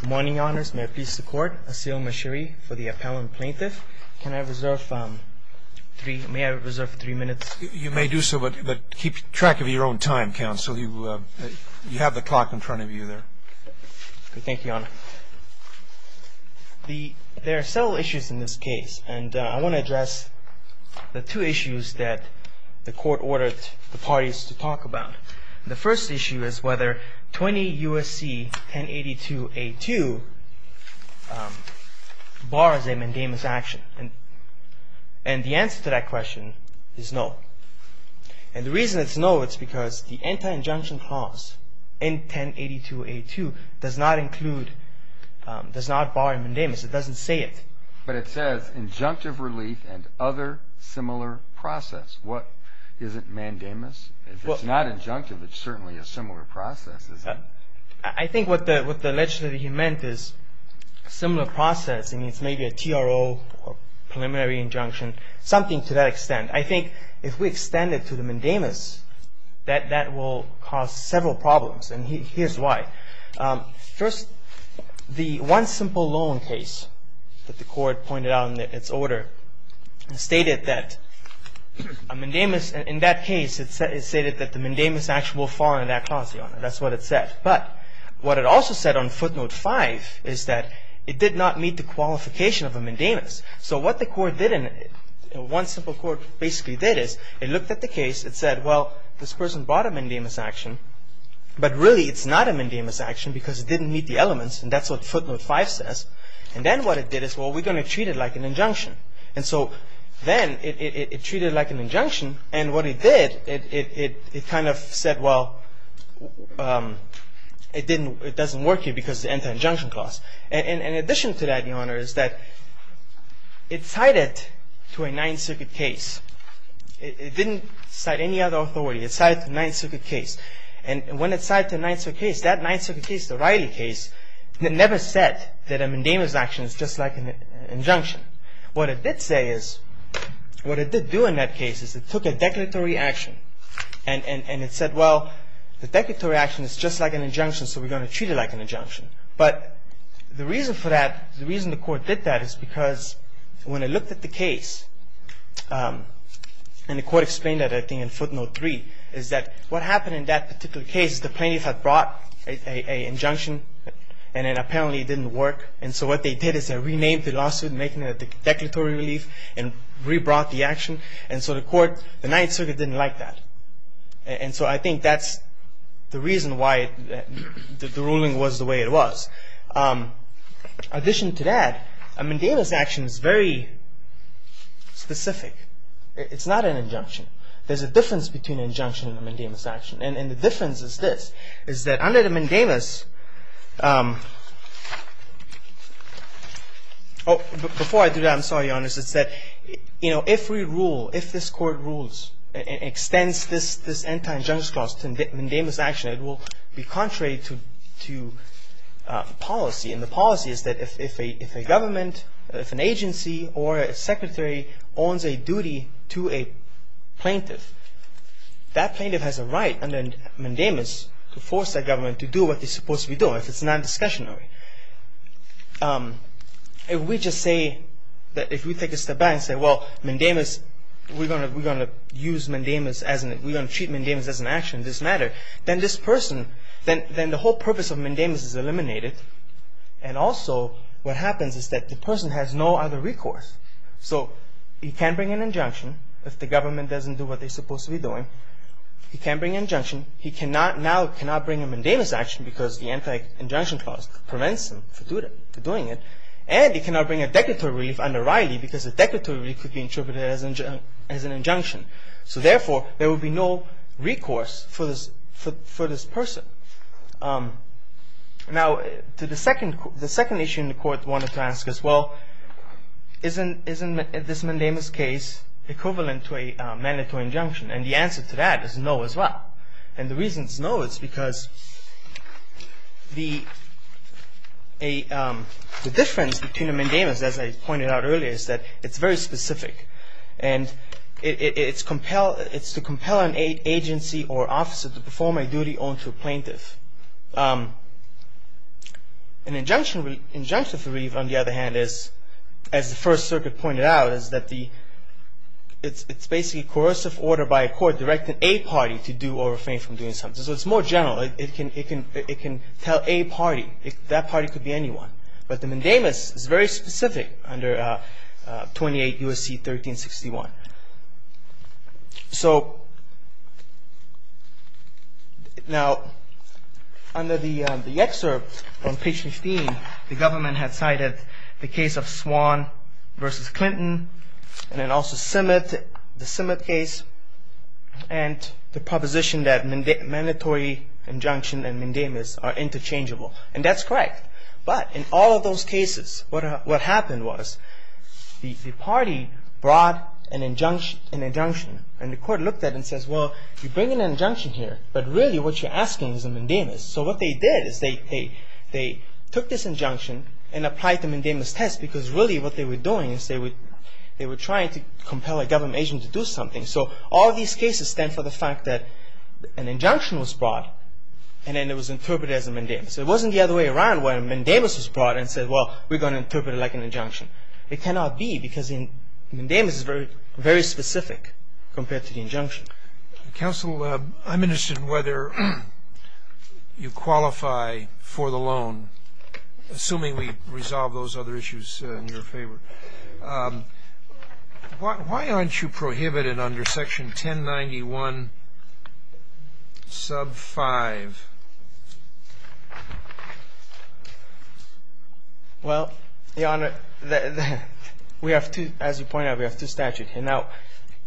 Good morning, Your Honours. May I please support Asil Mashiri for the appellant plaintiff? May I reserve three minutes? You may do so, but keep track of your own time, counsel. You have the clock in front of you there. Thank you, Your Honour. There are several issues in this case, and I want to address the two issues that the court ordered the parties to talk about. The first issue is whether 20 U.S.C. 1082-A2 bars a mandamus action, and the answer to that question is no. And the reason it's no is because the anti-injunction clause in 1082-A2 does not include, does not bar a mandamus. It doesn't say it. But it says, injunctive relief and other similar process. What, is it mandamus? If it's not injunctive, it's certainly a similar process, isn't it? I think what the legislator, he meant is similar process, and it's maybe a TRO or preliminary injunction, something to that extent. I think if we extend it to the mandamus, that that will cause several problems, and here's why. First, the one simple loan case that the court pointed out in its order stated that a mandamus, in that case, it stated that the mandamus action will fall under that clause, Your Honour. That's what it said. But what it also said on footnote 5 is that it did not meet the qualification of a mandamus. So what the court did, one simple court basically did is it looked at the case, it said, well, this person brought a mandamus action, but really it's not a mandamus action because it didn't meet the elements, and that's what footnote 5 says. And then what it did is, well, we're going to treat it like an injunction. And so then it treated it like an injunction, and what it did, it kind of said, well, it doesn't work here because it's an anti-injunction clause. And in addition to that, Your Honour, is that it cited to a Ninth Circuit case. It didn't cite any other authority. It cited the Ninth Circuit case. And when it cited the Ninth Circuit case, that Ninth Circuit case, the Riley case, it never said that a mandamus action is just like an injunction. What it did say is, what it did do in that case is it took a declaratory action and it said, well, the declaratory action is just like an injunction, so we're going to treat it like an injunction. But the reason for that, the reason the Court did that is because when it looked at the case, and the Court explained that, I think, in footnote 3, is that what happened in that particular case, the plaintiff had brought an injunction, and it apparently didn't work. And so what they did is they renamed the lawsuit, making it a declaratory relief, and re-brought the action. And so the Court, the Ninth Circuit didn't like that. And so I think that's the reason why the ruling was the way it was. In addition to that, a mandamus action is very specific. It's not an injunction. There's a difference between an injunction and a mandamus action. And the difference is this, is that under the mandamus, before I do that, I'm sorry, Your Honor, it's that, you know, if we rule, if this Court rules and extends this anti-injunction clause to mandamus action, it will be contrary to policy. And the policy is that if a government, if an agency or a secretary owns a duty to a plaintiff, that plaintiff has a right under mandamus to force that government to do what they're supposed to be doing, if it's non-discussionary. If we just say that, if we take a step back and say, well, mandamus, we're going to use mandamus as an, we're going to treat mandamus as an action, it doesn't matter. Then this person, then the whole purpose of mandamus is eliminated. And also what happens is that the person has no other recourse. So he can't bring an injunction if the government doesn't do what they're supposed to be doing. He can't bring an injunction. He cannot now, cannot bring a mandamus action because the anti-injunction clause prevents him from doing it. And he cannot bring a declaratory relief under Riley because a declaratory relief could be interpreted as an injunction. So therefore, there will be no recourse for this person. Now, the second issue in the Court wanted to ask is, well, isn't this mandamus case equivalent to a mandatory injunction? And the answer to that is no as well. And the reason it's no is because the difference between a mandamus, as I pointed out earlier, is that it's very specific. And it's to compel an agency or officer to perform a duty on to a plaintiff. An injunctive relief, on the other hand, as the First Circuit pointed out, is that it's basically a coercive order by a court directing a party to do or refrain from doing something. So it's more general. It can tell a party. That party could be anyone. But the mandamus is very specific under 28 U.S.C. 1361. So now, under the excerpt on page 15, the government had cited the case of Swan v. Clinton and then also the Smyth case and the proposition that mandatory injunction and mandamus are interchangeable. And that's correct. But in all of those cases, what happened was the party brought an injunction. And the court looked at it and says, well, you bring an injunction here, but really what you're asking is a mandamus. So what they did is they took this injunction and applied the mandamus test because really what they were doing is they were trying to compel a government agent to do something. So all these cases stand for the fact that an injunction was brought and then it was interpreted as a mandamus. It wasn't the other way around where a mandamus was brought and said, well, we're going to interpret it like an injunction. It cannot be because the mandamus is very specific compared to the injunction. Counsel, I'm interested in whether you qualify for the loan, assuming we resolve those other issues in your favor. Why aren't you prohibited under section 1091 sub 5? Well, Your Honor, we have two, as you pointed out, we have two statutes. And now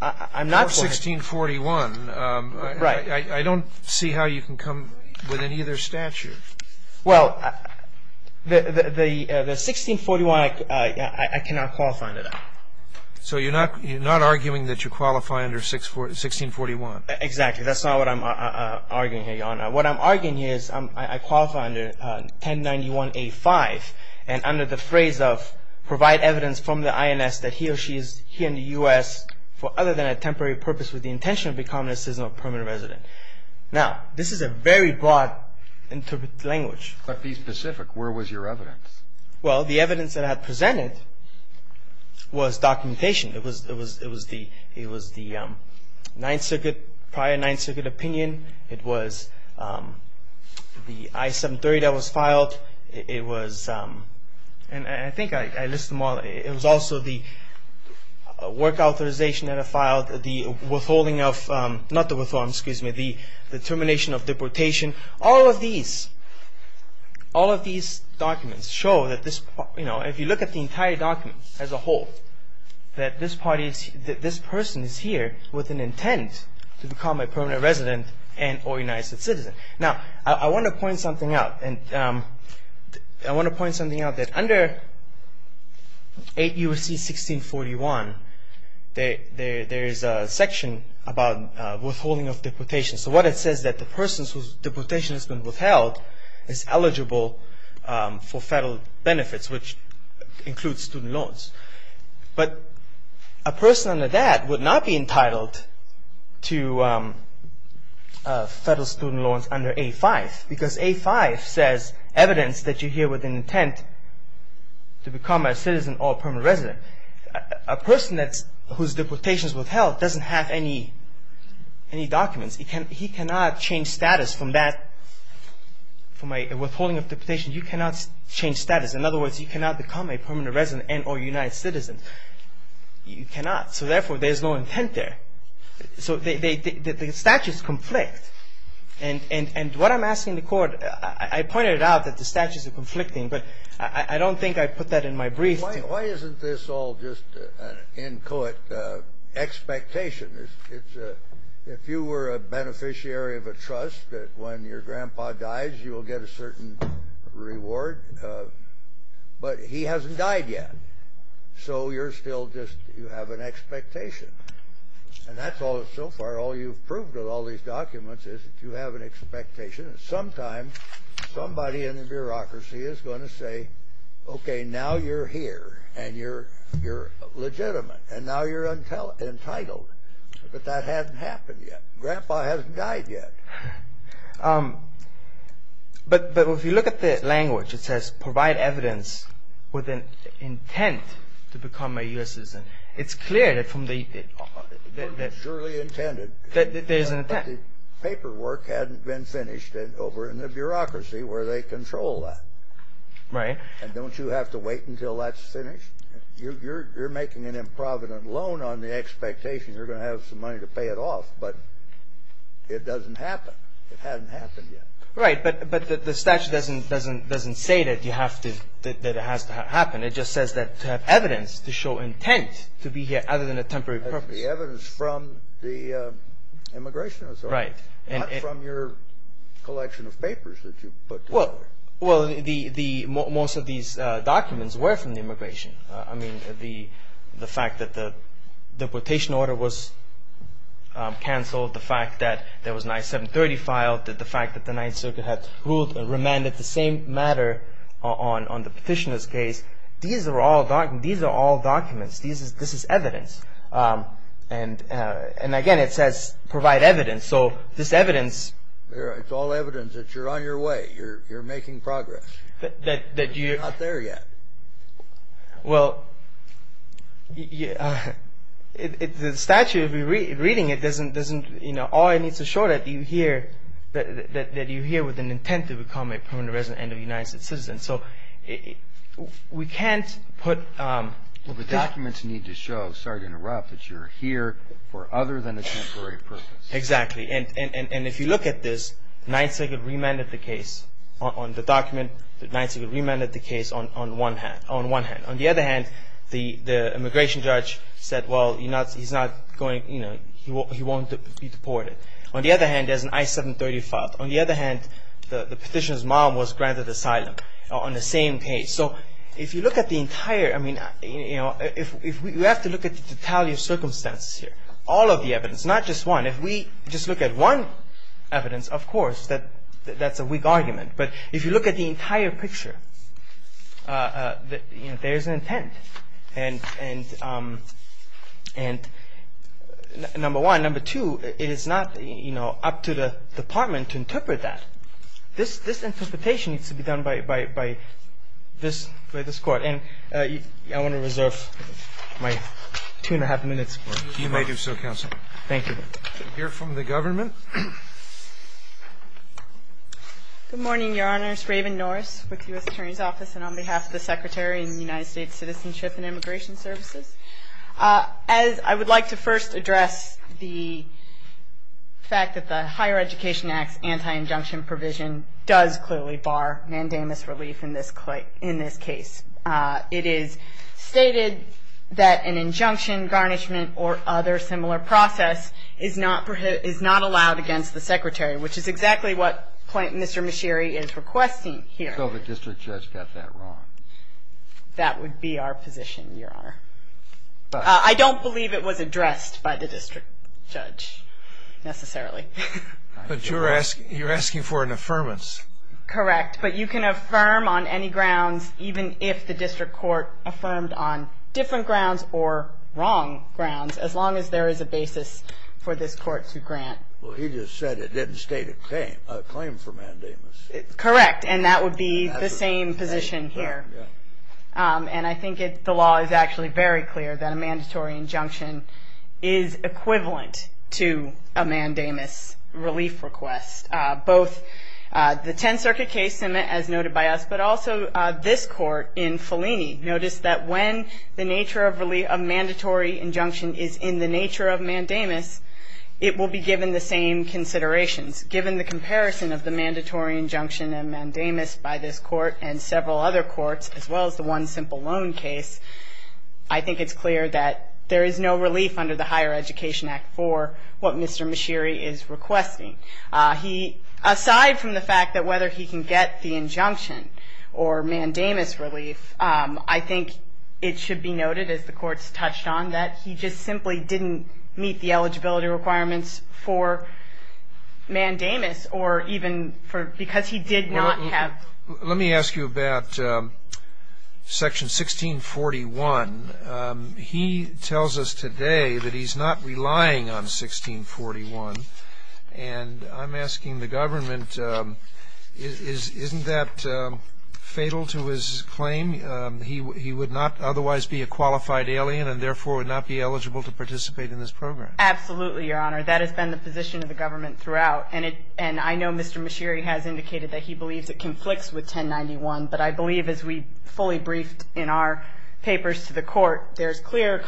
I'm not going to 1641. Right. I don't see how you can come with any other statute. Well, the 1641, I cannot qualify under that. So you're not arguing that you qualify under 1641? Exactly. That's not what I'm arguing here, Your Honor. What I'm arguing here is I qualify under 1091A5 and under the phrase of provide evidence from the INS that he or she is here in the U.S. for other than a temporary purpose with the intention of becoming a seasonal permanent resident. Now, this is a very broad language. But be specific. Where was your evidence? Well, the evidence that I presented was documentation. It was the Ninth Circuit, prior Ninth Circuit opinion. It was the I-730 that was filed. It was, and I think I list them all. It was also the work authorization that I filed, the withholding of, not the withholding, excuse me, the termination of deportation. All of these, all of these documents show that this, you know, if you look at the entire document as a whole, that this person is here with an intent to become a permanent resident and organized citizen. Now, I want to point something out. And I want to point something out that under 8 U.S.C. 1641, there is a section about withholding of deportation. So what it says that the person whose deportation has been withheld is eligible for federal benefits, which includes student loans. But a person under that would not be entitled to federal student loans under 8.5, because 8.5 says evidence that you're here with an intent to become a citizen or a permanent resident. A person whose deportation is withheld doesn't have any documents. He cannot change status from that, from a withholding of deportation. You cannot change status. In other words, you cannot become a permanent resident and or a united citizen. You cannot. So, therefore, there's no intent there. So the statutes conflict. And what I'm asking the court, I pointed out that the statutes are conflicting, but I don't think I put that in my brief. Why isn't this all just an in-court expectation? If you were a beneficiary of a trust that when your grandpa dies, you will get a certain reward, but he hasn't died yet. So you're still just, you have an expectation. And that's all, so far, all you've proved with all these documents is that you have an expectation. And sometimes somebody in the bureaucracy is going to say, okay, now you're here, and you're legitimate, and now you're entitled. But that hasn't happened yet. Grandpa hasn't died yet. But if you look at the language, it says provide evidence with an intent to become a U.S. citizen. It's clear that from the- Surely intended. There's an intent. But the paperwork hadn't been finished over in the bureaucracy where they control that. Right. And don't you have to wait until that's finished? You're making an improvident loan on the expectation you're going to have some money to pay it off, but it doesn't happen. It hasn't happened yet. Right, but the statute doesn't say that you have to, that it has to happen. It just says that to have evidence to show intent to be here other than a temporary purpose. The evidence from the Immigration Authority. Right. Not from your collection of papers that you put together. Well, most of these documents were from the Immigration. I mean, the fact that the deportation order was canceled, the fact that there was an I-730 filed, the fact that the Ninth Circuit had ruled and remanded the same matter on the petitioner's case. These are all documents. This is evidence. And, again, it says provide evidence. So this evidence. It's all evidence that you're on your way. You're making progress. You're not there yet. Well, the statute, if you're reading it, all it needs to show that you're here with an intent to become a permanent resident and a United States citizen. So we can't put... Well, the documents need to show, sorry to interrupt, that you're here for other than a temporary purpose. Exactly. And if you look at this, Ninth Circuit remanded the case on the document. Ninth Circuit remanded the case on one hand. On the other hand, the immigration judge said, well, he's not going, you know, he won't be deported. On the other hand, there's an I-730 filed. On the other hand, the petitioner's mom was granted asylum on the same case. So if you look at the entire, I mean, you know, you have to look at the totality of circumstances here. All of the evidence, not just one. If we just look at one evidence, of course, that's a weak argument. But if you look at the entire picture, there's an intent. And number one. Number two, it is not, you know, up to the Department to interpret that. This interpretation needs to be done by this Court. And I want to reserve my two and a half minutes. You may do so, counsel. Thank you. We'll hear from the government. Good morning, Your Honors. Raven Norris with the U.S. Attorney's Office. And on behalf of the Secretary and the United States Citizenship and Immigration Services, I would like to first address the fact that the Higher Education Act's anti-injunction provision does clearly bar mandamus relief in this case. It is stated that an injunction, garnishment, or other similar process is not allowed against the Secretary, which is exactly what Mr. Micheri is requesting here. I don't think the District Judge got that wrong. That would be our position, Your Honor. I don't believe it was addressed by the District Judge necessarily. But you're asking for an affirmance. Correct. But you can affirm on any grounds, even if the District Court affirmed on different grounds or wrong grounds, as long as there is a basis for this Court to grant. Well, he just said it didn't state a claim for mandamus. Correct. And that would be the same position here. And I think the law is actually very clear that a mandatory injunction is equivalent to a mandamus relief request. Both the Tenth Circuit case, as noted by us, but also this Court in Fellini, noticed that when the nature of mandatory injunction is in the nature of mandamus, it will be given the same considerations. Given the comparison of the mandatory injunction and mandamus by this Court and several other courts, as well as the one simple loan case, I think it's clear that there is no relief under the Higher Education Act for what Mr. Micheri is requesting. Aside from the fact that whether he can get the injunction or mandamus relief, I think it should be noted, as the Court's touched on, that he just simply didn't meet the eligibility requirements for mandamus, or even because he did not have... Let me ask you about Section 1641. He tells us today that he's not relying on 1641. And I'm asking the government, isn't that fatal to his claim? He would not otherwise be a qualified alien, and therefore would not be eligible to participate in this program. Absolutely, Your Honor. That has been the position of the government throughout. And I know Mr. Micheri has indicated that he believes it conflicts with 1091. But I believe, as we fully briefed in our papers to the Court, there's clear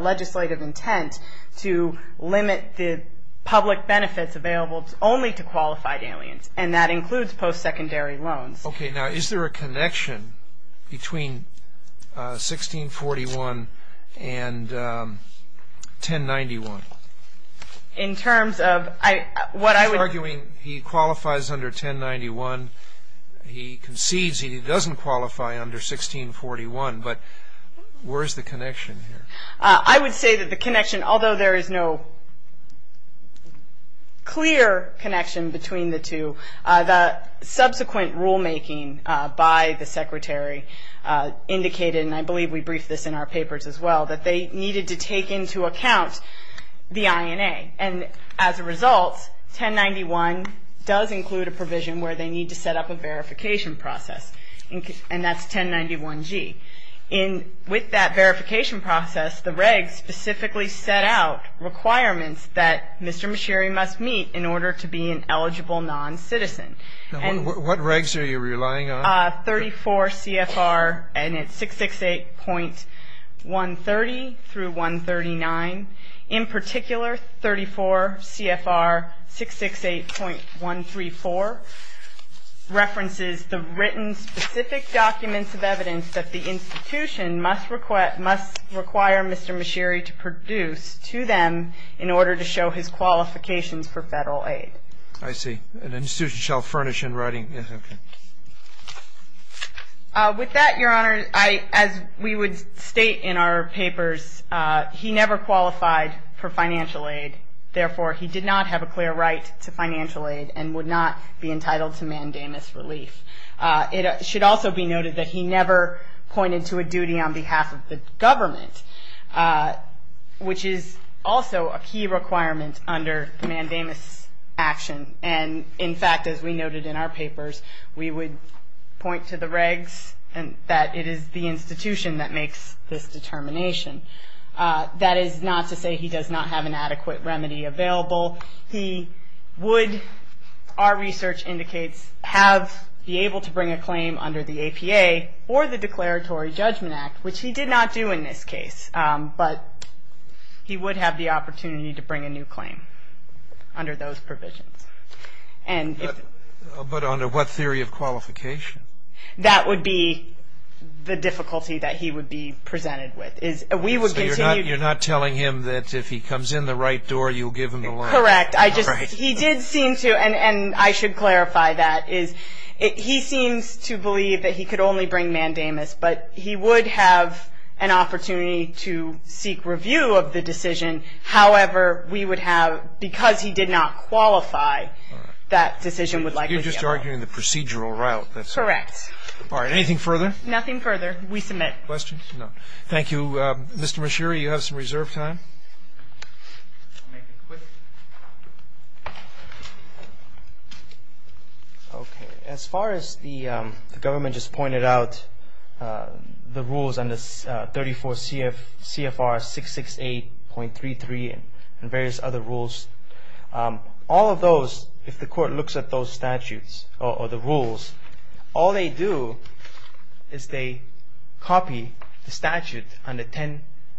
legislative intent to limit the public benefits available only to qualified aliens. And that includes post-secondary loans. Okay. Now, is there a connection between 1641 and 1091? In terms of what I would... He's arguing he qualifies under 1091. He concedes he doesn't qualify under 1641. But where is the connection here? I would say that the connection, although there is no clear connection between the two, the subsequent rulemaking by the Secretary indicated, and I believe we briefed this in our papers as well, that they needed to take into account the INA. And as a result, 1091 does include a provision where they need to set up a verification process. And that's 1091G. With that verification process, the regs specifically set out requirements that Mr. Micheri must meet in order to be an eligible non-citizen. What regs are you relying on? 34 CFR and it's 668.130 through 139. In particular, 34 CFR 668.134 references the written specific documents of evidence that the institution must require Mr. Micheri to produce to them in order to show his qualifications for federal aid. I see. An institution shall furnish in writing. With that, Your Honor, as we would state in our papers, he never qualified for financial aid. Therefore, he did not have a clear right to financial aid and would not be entitled to mandamus relief. It should also be noted that he never pointed to a duty on behalf of the government, which is also a key requirement under mandamus action. And, in fact, as we noted in our papers, we would point to the regs that it is the institution that makes this determination. That is not to say he does not have an adequate remedy available. He would, our research indicates, be able to bring a claim under the APA or the Declaratory Judgment Act, which he did not do in this case. But he would have the opportunity to bring a new claim under those provisions. But under what theory of qualification? That would be the difficulty that he would be presented with. So you're not telling him that if he comes in the right door, you'll give him the loan? Correct. He did seem to, and I should clarify that, is he seems to believe that he could only bring mandamus, but he would have an opportunity to seek review of the decision. However, we would have, because he did not qualify, that decision would likely be upheld. You're just arguing the procedural route. Correct. All right. Anything further? Nothing further. We submit. Questions? No. Thank you. Mr. Mashiri, you have some reserve time. I'll make it quick. Okay. As far as the government just pointed out, the rules under 34 CFR 668.33 and various other rules, all of those, if the Court looks at those statutes or the rules, all they do is they copy the statute under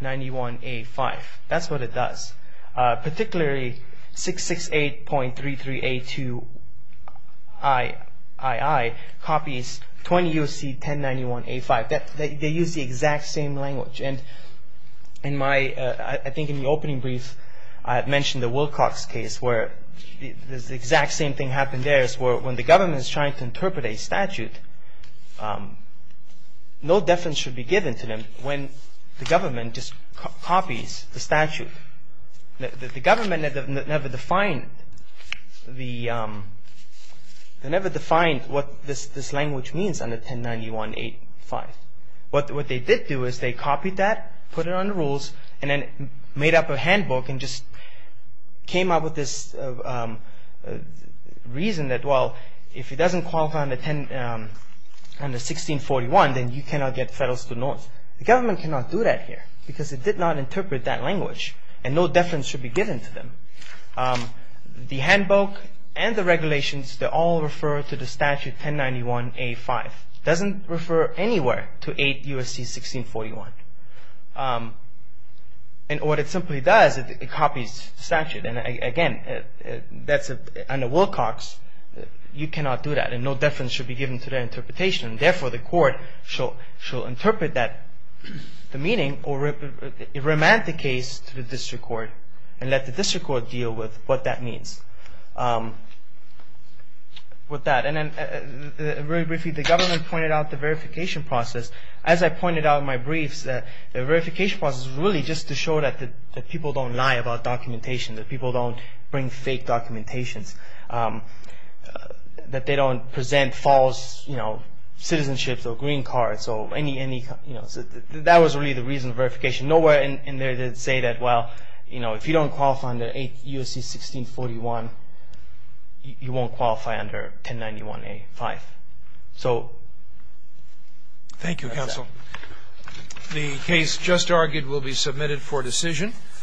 1091A5. That's what it does. Particularly, 668.33A2II copies 20 U.C. 1091A5. They use the exact same language. And I think in the opening brief, I had mentioned the Wilcox case, where the exact same thing happened there. When the government is trying to interpret a statute, no deference should be given to them when the government just copies the statute. The government never defined what this language means under 1091A5. What they did do is they copied that, put it on the rules, and then made up a handbook and just came up with this reason that, well, if it doesn't qualify under 1641, then you cannot get Federal Student Loans. The government cannot do that here because it did not interpret that language, and no deference should be given to them. The handbook and the regulations, they all refer to the statute 1091A5. It doesn't refer anywhere to 8 U.S.C. 1641. And what it simply does, it copies the statute. And, again, under Wilcox, you cannot do that, and no deference should be given to their interpretation. Therefore, the court shall interpret the meaning or remand the case to the district court and let the district court deal with what that means. Very briefly, the government pointed out the verification process. As I pointed out in my briefs, the verification process was really just to show that people don't lie about documentation, that people don't bring fake documentations, that they don't present false citizenships or green cards. That was really the reason for verification. Nowhere in there did it say that, well, you know, if you don't qualify under 8 U.S.C. 1641, you won't qualify under 1091A5. So that's that. Thank you, Counsel. The case just argued will be submitted for decision.